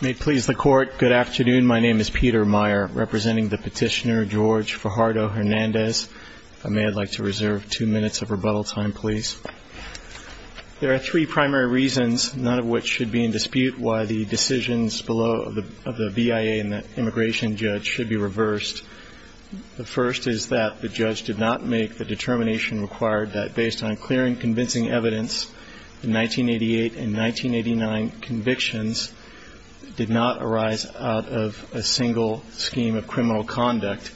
May it please the court, good afternoon, my name is Peter Meyer, representing the petitioner George Fajardo-Hernandez. If I may, I'd like to reserve two minutes of rebuttal time, please. There are three primary reasons, none of which should be in dispute, why the decisions below the VIA and the immigration judge should be reversed. The first is that the judge did not make the determination required that based on clear and convincing evidence in 1988 and 1989 convictions did not arise out of a single scheme of criminal conduct.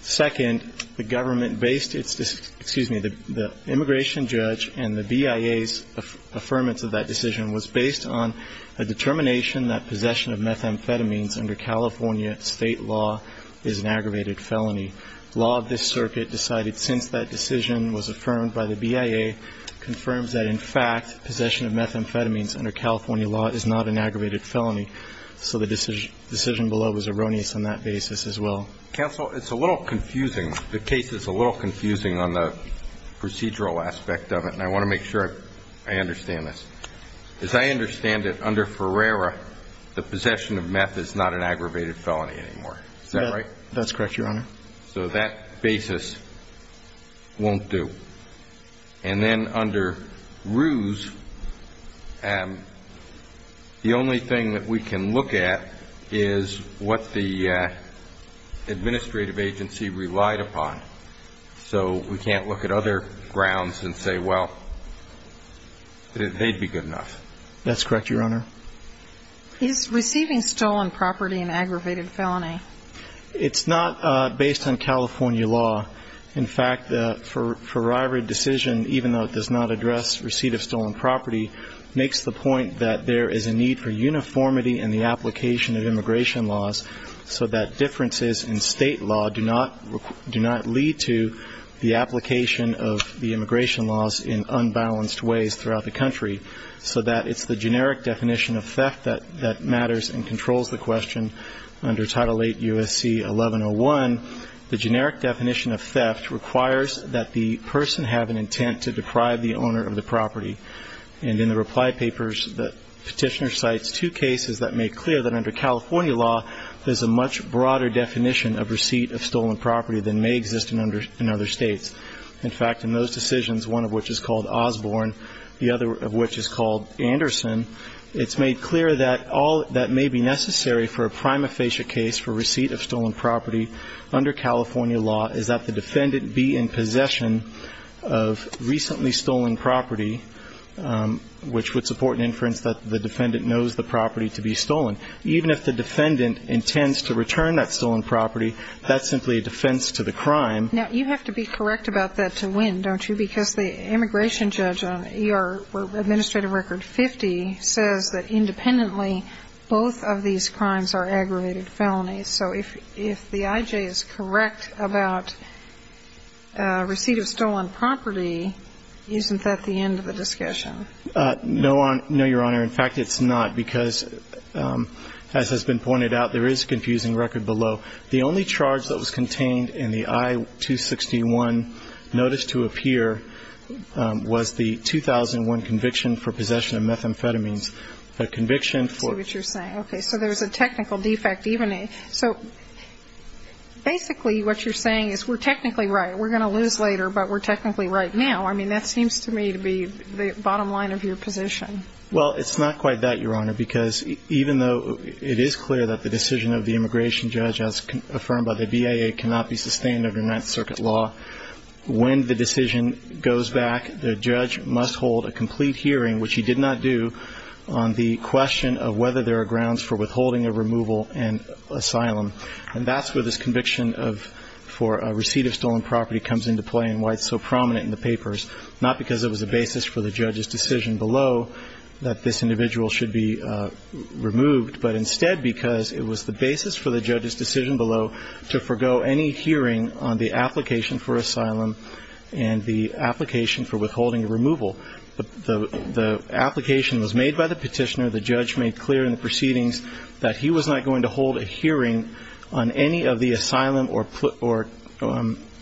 Second, the government based its, excuse me, the immigration judge and the VIA's affirmance of that decision was based on a determination that possession of methamphetamines under California state law is an aggravated felony. Law of this circuit decided since that decision was affirmed by the VIA confirms that in fact possession of methamphetamines under California law is not an aggravated felony. So the decision below was erroneous on that basis as well. Counsel it's a little confusing, the case is a little confusing on the procedural aspect of it and I want to make sure I understand this. As I understand it, under Ferreira the possession of meth is not an aggravated felony anymore, is that right? That's correct your honor. So that basis won't do. And then under Ruse the only thing that we can look at is what the administrative agency relied upon. So we can't look at other grounds and say well, they'd be good enough. That's correct your honor. Is receiving stolen property an aggravated felony? It's not based on California law. In fact for Rye Ridge decision even though it does not address receipt of stolen property makes the point that there is a need for uniformity in the application of immigration laws so that differences in state law do not lead to the application of the immigration laws in unbalanced ways throughout the country. So that it's the generic definition of theft that matters and controls the question. Under title 8 U.S.C. 1101 the generic definition of theft requires that the person have an intent to deprive the owner of the property. And in the reply papers the petitioner cites two cases that make clear that under California law there's a much broader definition of receipt of stolen property than may exist in other states. In fact in those decisions, one of which is called Osborne, the other of which is called Anderson, it's made clear that all that may be necessary for a prima facie case for receipt of stolen property under California law is that the defendant be in possession of recently stolen property which would support an inference that the defendant knows the property to be stolen. Even if the defendant intends to return that stolen property, that's simply a defense to the crime. Now you have to be correct about that to win, don't you? Because the immigration judge on ER administrative record 50 says that independently both of these crimes are aggravated felonies. So if the I.J. is correct about receipt of stolen property, isn't that the end of the discussion? No, Your Honor. In fact it's not. Because as has been pointed out, there is a confusing record below. The only charge that was contained in the I-261 notice to appear was the 2001 conviction for possession of methamphetamines. The conviction for I see what you're saying. Okay. So there's a technical defect. So basically what you're saying is we're technically right. We're going to lose later, but we're technically right now. I mean, that seems to me to be the bottom line of your position. Well, it's not quite that, Your Honor. Because even though it is clear that the decision of the immigration judge as affirmed by the BIA cannot be sustained under Ninth Circuit law, when the decision goes back, the judge must hold a complete hearing, which he did not do, on the question of whether there are grounds for withholding of removal and asylum. And that's where this conviction for receipt of stolen property comes into play and why it's so prominent in the papers. Not because it was a basis for the judge's decision below that this individual should be removed, but instead because it was the basis for the judge's decision below to forego any hearing on the application for asylum and the application for withholding of removal. The application was made by the petitioner. The judge made clear in the proceedings that he was not going to hold a hearing on any of the asylum or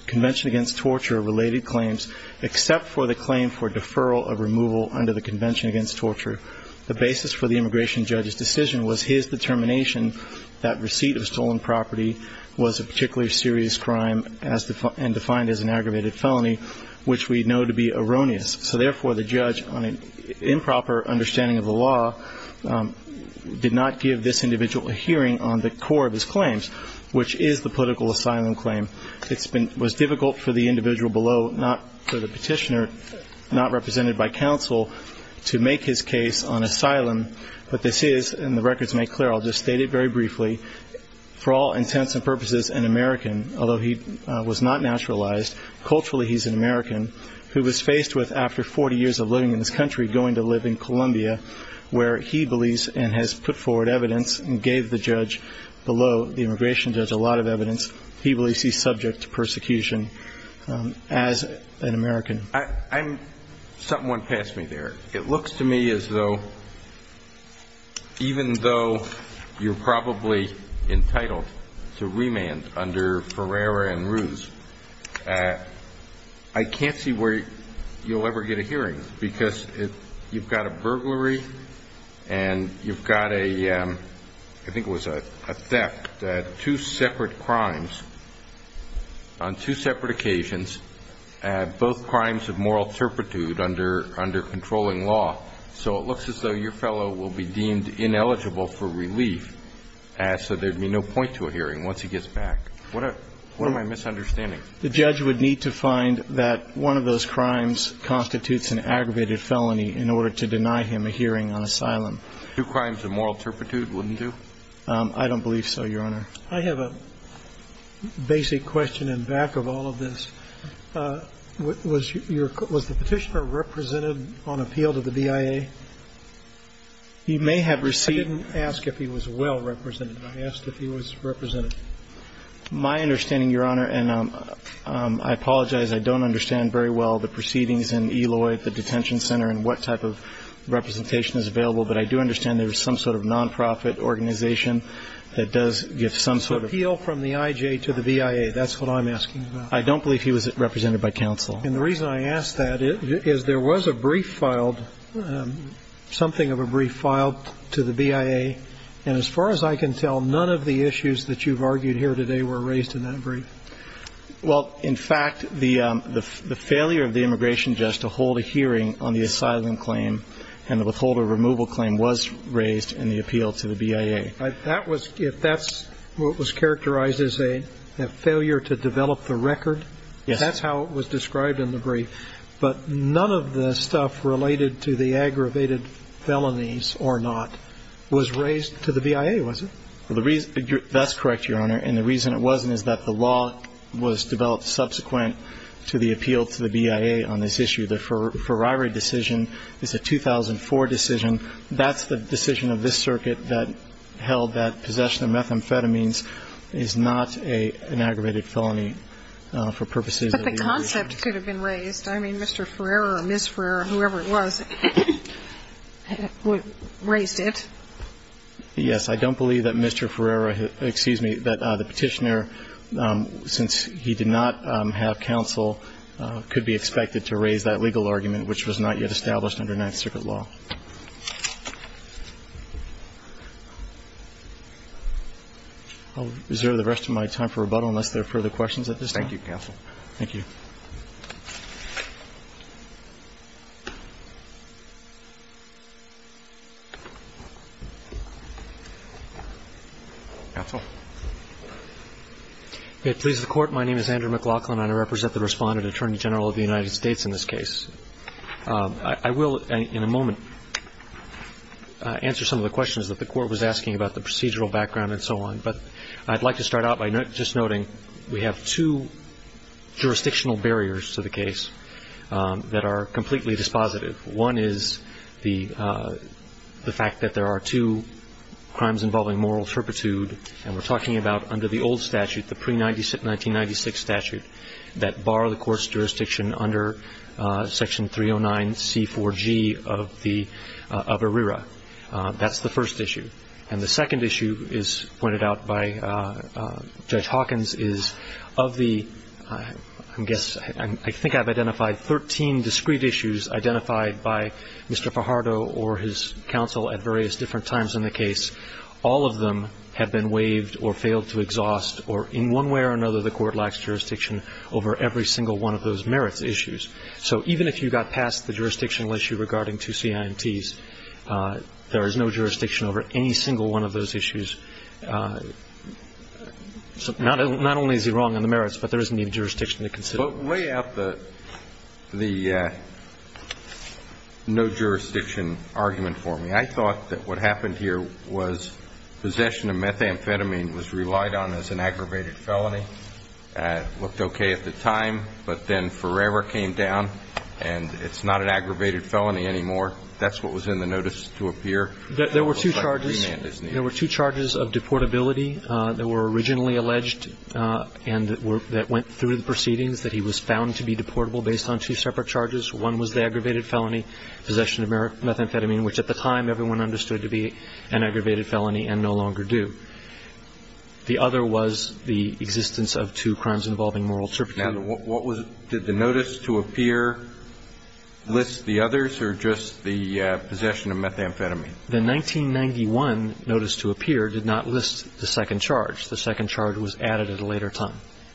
Convention Against Torture-related claims except for the claim for deferral of removal under the Convention Against Torture. The basis for the immigration judge's decision was his determination that receipt of stolen property was a particularly serious crime and defined as an aggravated felony, which we know to be erroneous. So therefore, the judge, on an improper understanding of the law, did not give this individual a hearing on the core of his claims, which is the political asylum claim. It was difficult for the individual below, not for the petitioner, not represented by counsel, to make his case on asylum. But this is, and the records make clear, I'll just state it very briefly, for all intents and purposes an American, although he was not naturalized, culturally he's an American, who was faced with, after 40 years of living in this country, going to live in Colombia, where he believes and has put forward evidence and gave the judge below, the immigration judge, a lot of evidence, he believes he's subject to persecution as an American. I'm, something went past me there. It looks to me as though, even though you're probably entitled to remand under Ferreira and Ruz, I can't see where you'll ever get a hearing because you've got a burglary and you've got a, I think it was a theft, two separate crimes on two separate occasions, both crimes of moral turpitude under controlling law. So it looks as though your fellow will be deemed ineligible for relief, so there'd be no point to a hearing once he gets back. What am I misunderstanding? The judge would need to find that one of those crimes constitutes an aggravated felony in order to deny him a hearing on asylum. Two crimes of moral turpitude, wouldn't he do? I don't believe so, Your Honor. I have a basic question in back of all of this. Was your, was the petitioner represented on appeal to the BIA? He may have received... I didn't ask if he was well represented. I asked if he was represented. My understanding, Your Honor, and I apologize, I don't understand very well the proceedings in Eloy at the detention center and what type of representation is available, but I do understand there was some sort of nonprofit organization that does give some sort of... Appeal from the IJ to the BIA. That's what I'm asking about. I don't believe he was represented by counsel. And the reason I ask that is there was a brief filed, something of a brief filed to the BIA, and as far as I can tell, none of the issues that you've argued here today were raised in that brief. Well, in fact, the failure of the immigration judge to hold a hearing on the asylum claim and the withholder removal claim was raised in the appeal to the BIA. That was, if that's what was characterized as a failure to develop the record... Yes. That's how it was described in the brief. But none of the stuff related to the aggravated felonies or not was raised to the BIA, was it? That's correct, Your Honor. And the reason it wasn't is that the law was developed subsequent to the appeal to the BIA on this issue. The Ferrari decision is a 2004 decision. That's the decision of this circuit that held that possession of methamphetamines is not an aggravated felony for purposes of the... But the concept could have been raised. I mean, Mr. Ferrer or Ms. Ferrer or whoever it was raised it. Yes. I don't believe that Mr. Ferrer, excuse me, that the petitioner, since he did not have counsel, could be expected to raise that legal argument, which was not yet established under Ninth Circuit law. I'll reserve the rest of my time for rebuttal unless there are further questions at this time. Thank you, counsel. Thank you. Counsel. It pleases the Court. My name is Andrew McLaughlin, and I represent the Respondent Attorney General of the United States in this case. I will in a moment answer some of the questions that the Court was asking about the procedural background and so on, but I'd like to start out by just noting we have two jurisdiction barriers to the case that are completely dispositive. One is the fact that there are two crimes involving moral turpitude, and we're talking about under the old statute, the pre-1996 statute, that bar the court's jurisdiction under Section 309C4G of ERIRA. That's the first issue. And the second issue is pointed out by Judge Hawkins, is of the, I guess, I think I've identified 13 discreet issues identified by Mr. Fajardo or his counsel at various different times in the case. All of them have been waived or failed to exhaust, or in one way or another, the Court lacks jurisdiction over every single one of those merits issues. So even if you got past the jurisdictional issue regarding two CIMTs, there is no jurisdiction over any single one of those issues. So not only is he wrong on the merits, but there is needed jurisdiction to consider. But lay out the no jurisdiction argument for me. I thought that what happened here was possession of methamphetamine was relied on as an aggravated felony, looked okay at the time, but then forever came down, and it's not an aggravated felony anymore. That's what was in the notice to appear. There were two charges. There were two charges of deportability that were originally alleged and that went through the proceedings, that he was found to be deportable based on two separate charges. One was the aggravated felony, possession of methamphetamine, which at the time everyone understood to be an aggravated felony and no longer do. The other was the existence of two crimes involving moral serpentine. Now, what was it? Did the notice to appear list the others, or just the possession of methamphetamine? The 1991 notice to appear did not list the second charge. The second charge was added at a later time.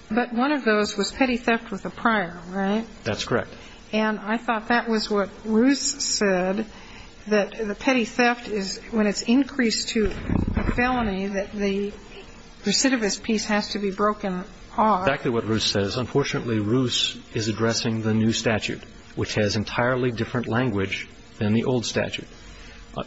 But one of those was petty theft with a prior, right? That's correct. And I thought that was what Roos said, that the petty theft is, when it's increased to a felony, that the recidivist piece has to be broken off. Back to what Roos says. Unfortunately, Roos is addressing the new statute, which has entirely different language than the old statute.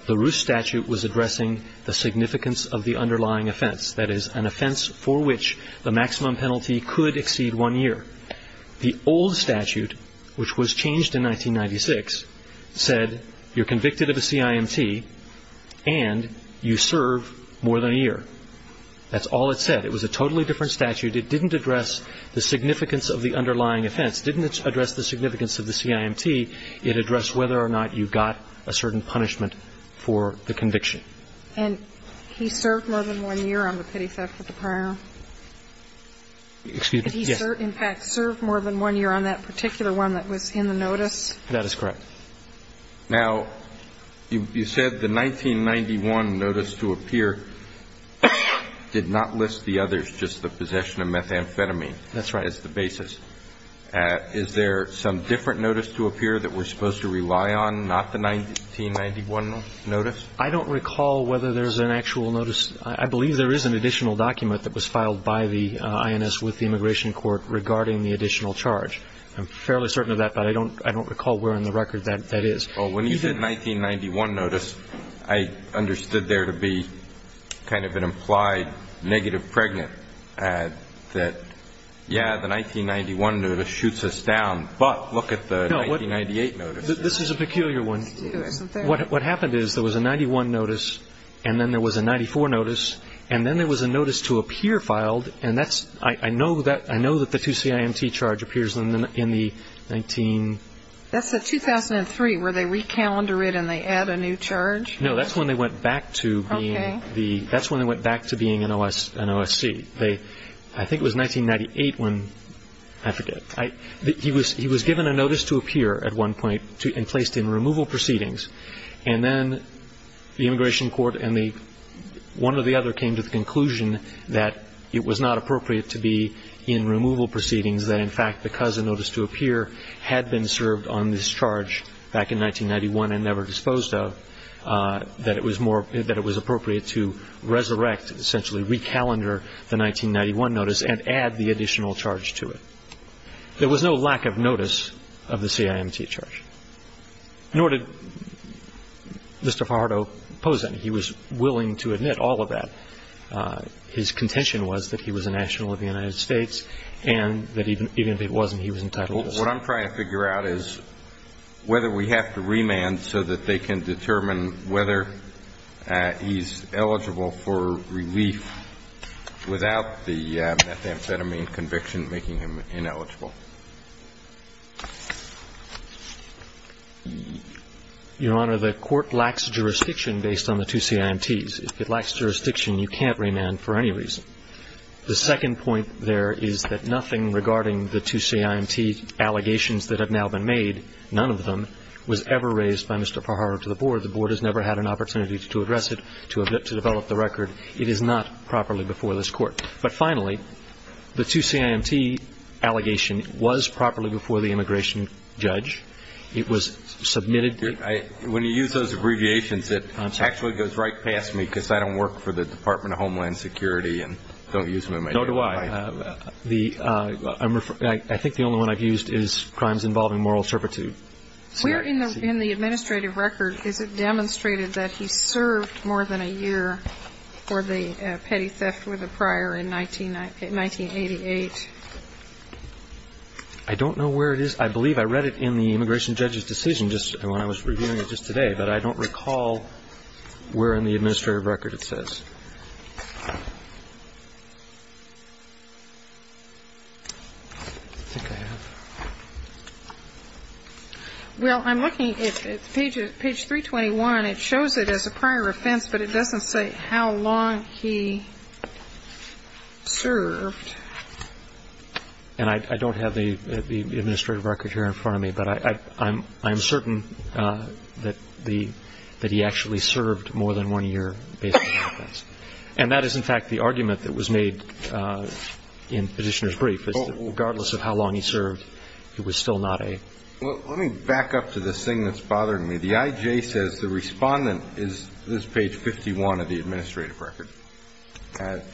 The Roos statute was addressing the significance of the underlying offense. That is, an offense for which the maximum penalty could exceed one year. The old statute, which was changed in 1996, said you're convicted of a CIMT and you serve more than a year. That's all it said. It was a totally different statute. It didn't address the significance of the underlying offense. Didn't address the significance of the CIMT. It addressed whether or not you got a certain punishment for the conviction. And he served more than one year on the petty theft with a prior? Excuse me? Yes. In fact, served more than one year on that particular one that was in the notice? That is correct. Now, you said the 1991 notice to appear did not list the others, just the possession of methamphetamine. That's right. As the basis. Is there some different notice to appear that we're supposed to rely on, not the 1991 notice? I don't recall whether there's an actual notice. I believe there is an additional document that was filed by the INS with the Immigration Court regarding the additional charge. I'm fairly certain of that, but I don't recall where in the record that is. Well, when you said 1991 notice, I understood there to be kind of an implied negative pregnant that, yeah, the 1991 notice shoots us down, but look at the 1998 notice. This is a peculiar one. What happened is there was a 91 notice, and then there was a 94 notice, and then there was a notice to appear filed, and that's – I know that the 2 CIMT charge appears in the 19 – That's the 2003 where they re-calendar it and they add a new charge? No. That's when they went back to being the – that's when they went back to being an OSC. They – I think it was 1998 when – I forget. He was given a notice to appear at one point and placed in removal proceedings, and then the Immigration Court and the – one or the other came to the conclusion that it was not appropriate to be in removal proceedings, that, in fact, because a notice to appear had been served on this charge back in 1991 and never disposed of, that it was more – that it was appropriate to resurrect, essentially re-calendar the 1991 notice and add the additional charge to it. There was no lack of notice of the CIMT charge, nor did Mr. Fajardo pose any. He was willing to admit all of that. His contention was that he was a national of the United States and that even if it wasn't, he was entitled to stay. What I'm trying to figure out is whether we have to remand so that they can determine whether he's eligible for relief without the methamphetamine conviction making him ineligible. Your Honor, the Court lacks jurisdiction based on the two CIMTs. If it lacks jurisdiction, you can't remand for any reason. The second point there is that nothing regarding the two CIMT allegations that have now been made, none of them, was ever raised by Mr. Fajardo to the Board. The Board has never had an opportunity to address it, to develop the record. It is not properly before this Court. But, finally, the two CIMT allegation was properly before the immigration judge. It was submitted. When you use those abbreviations, it actually goes right past me because I don't work for the Department of Homeland Security and don't use them. No, do I. I think the only one I've used is crimes involving moral servitude. Where in the administrative record is it demonstrated that he served more than a year for the petty theft with a prior in 1988? I don't know where it is. I believe I read it in the immigration judge's decision when I was reviewing it just today. But I don't recall where in the administrative record it says. I think I have. Well, I'm looking at page 321. It shows it as a prior offense, but it doesn't say how long he served. And I don't have the administrative record here in front of me. But I'm certain that he actually served more than one year based on the request. And that is, in fact, the argument that was made in Petitioner's brief, is that regardless of how long he served, it was still not a. Well, let me back up to this thing that's bothering me. The IJ says the Respondent is, this is page 51 of the administrative record.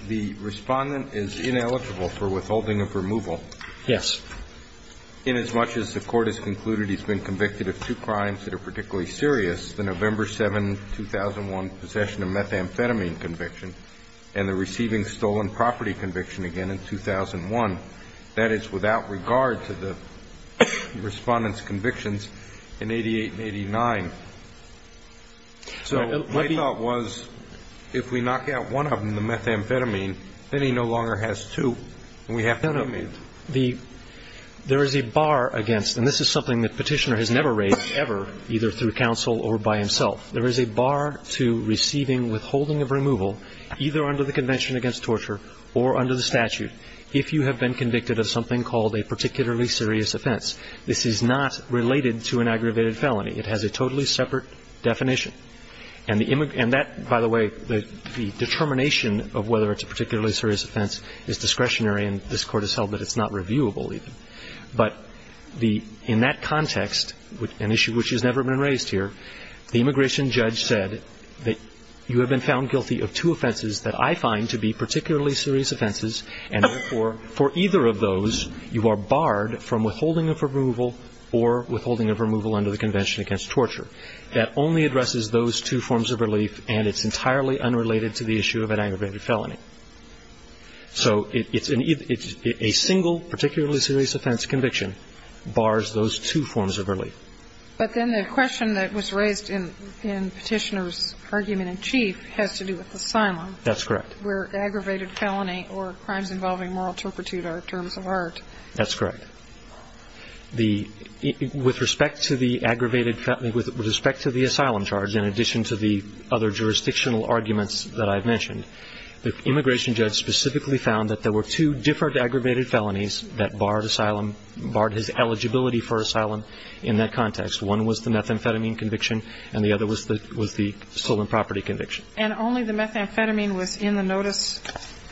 The Respondent is ineligible for withholding of removal. Yes. In as much as the Court has concluded he's been convicted of two crimes that are particularly serious, the November 7, 2001, possession of methamphetamine conviction and the receiving stolen property conviction again in 2001, that is, without regard to the Respondent's convictions in 88 and 89. So my thought was, if we knock out one of them, the methamphetamine, then he no longer has two and we have to remove. There is a bar against, and this is something that Petitioner has never raised ever, either through counsel or by himself. There is a bar to receiving withholding of removal, either under the Convention against Torture or under the statute, if you have been convicted of something called a particularly serious offense. This is not related to an aggravated felony. It has a totally separate definition. And that, by the way, the determination of whether it's a particularly serious offense is discretionary, and this Court has held that it's not reviewable even. But the – in that context, an issue which has never been raised here, the immigration judge said that you have been found guilty of two offenses that I find to be particularly serious offenses, and therefore, for either of those, you are barred from withholding of removal or withholding of removal under the Convention against Torture. That only addresses those two forms of relief, and it's entirely unrelated to the issue of an aggravated felony. So it's a single particularly serious offense conviction bars those two forms of relief. But then the question that was raised in Petitioner's argument in chief has to do with asylum. That's correct. Where aggravated felony or crimes involving moral turpitude are terms of art. That's correct. The – with respect to the aggravated – with respect to the asylum charge, in addition to the other jurisdictional arguments that I've mentioned, the immigration judge specifically found that there were two different aggravated felonies that barred asylum, barred his eligibility for asylum in that context. One was the methamphetamine conviction, and the other was the stolen property conviction. And only the methamphetamine was in the notice?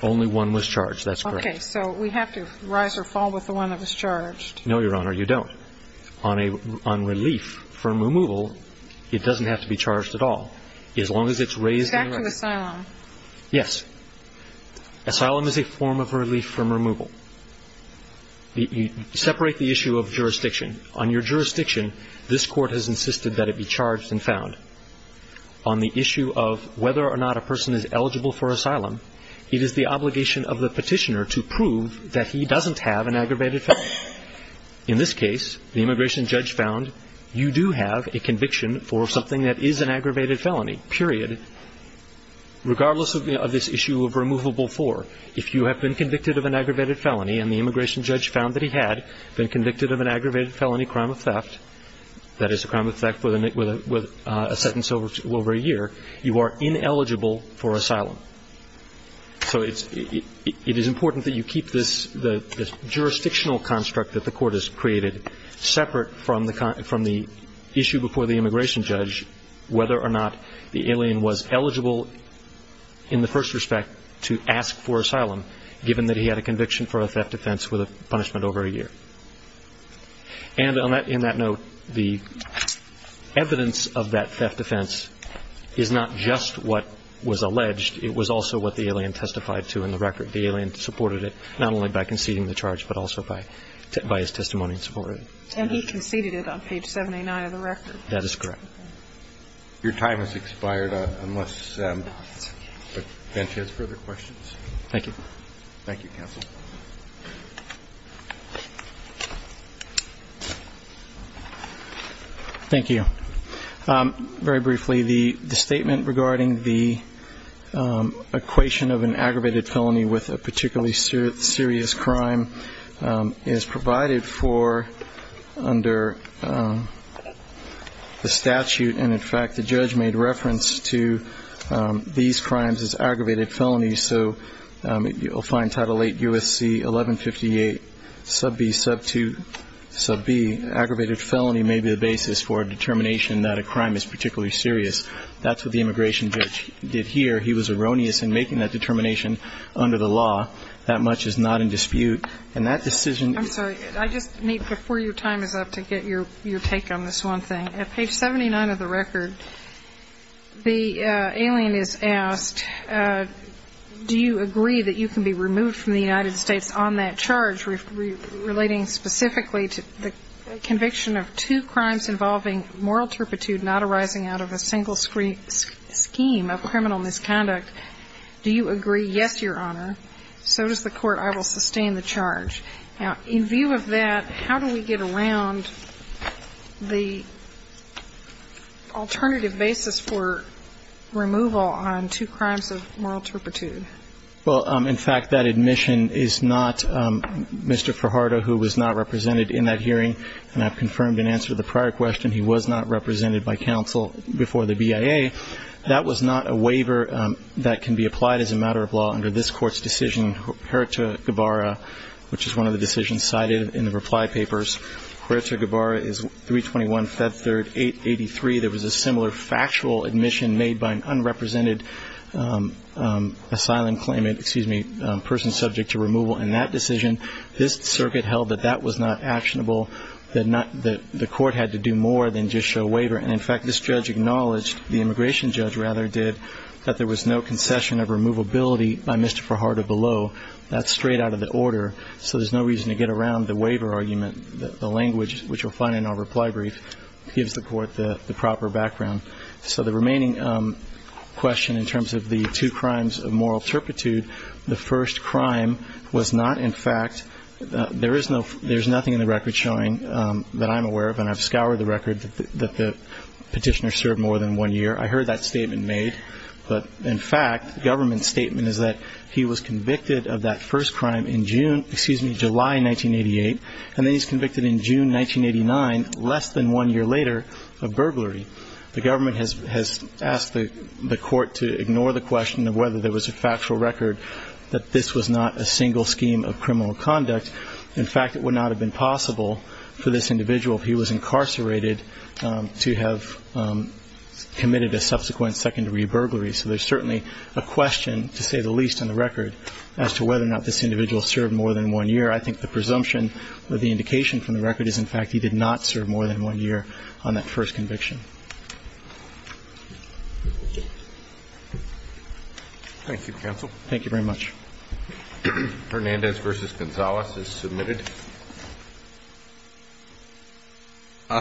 Only one was charged. That's correct. Okay. So we have to rise or fall with the one that was charged. No, Your Honor. You don't. On a – on relief from removal, it doesn't have to be charged at all. As long as it's raised in – With respect to asylum. Yes. Asylum is a form of relief from removal. You separate the issue of jurisdiction. On your jurisdiction, this Court has insisted that it be charged and found. On the issue of whether or not a person is eligible for asylum, it is the obligation of the petitioner to prove that he doesn't have an aggravated felony. In this case, the immigration judge found you do have a conviction for something that is an aggravated felony, period, regardless of this issue of removable for. If you have been convicted of an aggravated felony, and the immigration judge found that he had been convicted of an aggravated felony crime of theft, that is a crime of theft with a sentence over a year, you are ineligible for asylum. So it's – it is important that you keep this – the jurisdictional construct that the Court has created separate from the issue before the immigration judge, whether or not the alien was eligible in the first respect to ask for asylum, given that he had a conviction for a theft offense with a punishment over a year. And on that – in that note, the evidence of that theft offense is not just what was on the record, but it was also what the alien testified to in the record. The alien supported it, not only by conceding the charge, but also by his testimony in support of it. And he conceded it on page 789 of the record. That is correct. Your time has expired, unless – but Benji has further questions. Thank you. Thank you, counsel. Thank you. Very briefly, the statement regarding the equation of an aggravated felony with a particularly serious crime is provided for under the statute. And in fact, the judge made reference to these crimes as aggravated felonies. So you'll find Title VIII U.S.C. 1158, sub B, sub 2, sub B, aggravated felony may be the basis for a determination that a crime is particularly serious. That's what the immigration judge did here. He was erroneous in making that determination under the law. That much is not in dispute. And that decision – I'm sorry, I just need – before your time is up to get your take on this one thing, at page 79 of the record, the alien is asked, do you agree that you can be removed from the United States on that charge relating specifically to the conviction of two crimes involving moral turpitude not arising out of a single scheme of criminal misconduct, do you agree? Yes, Your Honor. So does the Court. I will sustain the charge. Now, in view of that, how do we get around the alternative basis for removal on two crimes of moral turpitude? Well, in fact, that admission is not – Mr. Fajardo, who was not represented in that hearing, and I've confirmed in answer to the prior question, he was not represented by counsel before the BIA. That was not a waiver that can be applied as a matter of law under this Court's decision, Huerta-Guevara, which is one of the decisions cited in the reply papers. Huerta-Guevara is 321 Fed Third 883. There was a similar factual admission made by an unrepresented asylum claimant – excuse me – person subject to removal in that decision. This circuit held that that was not actionable, that not – that the Court had to do more than just show waiver. And, in fact, this judge acknowledged – the immigration judge, rather, did – that there was no concession of removability by Mr. Fajardo below. That's straight out of the order. So there's no reason to get around the waiver argument. The language, which you'll find in our reply brief, gives the Court the proper background. So the remaining question in terms of the two crimes of moral turpitude, the first crime was not, in fact – there is no – there's nothing in the record showing that I'm aware of, and I've scoured the record, that the Petitioner served more than one year. I heard that statement made. But, in fact, the government's statement is that he was convicted of that first crime in June – excuse me – July 1988. And then he's convicted in June 1989, less than one year later, of burglary. The government has asked the Court to ignore the question of whether there was a factual record that this was not a single scheme of criminal conduct. In fact, it would not have been possible for this individual, if he was incarcerated, to have committed a subsequent second-degree burglary. So there's certainly a question, to say the least, on the record as to whether or not this individual served more than one year. I think the presumption or the indication from the record is, in fact, he did not serve more than one year on that first conviction. Thank you, counsel. Hernandez v. Gonzalez is submitted.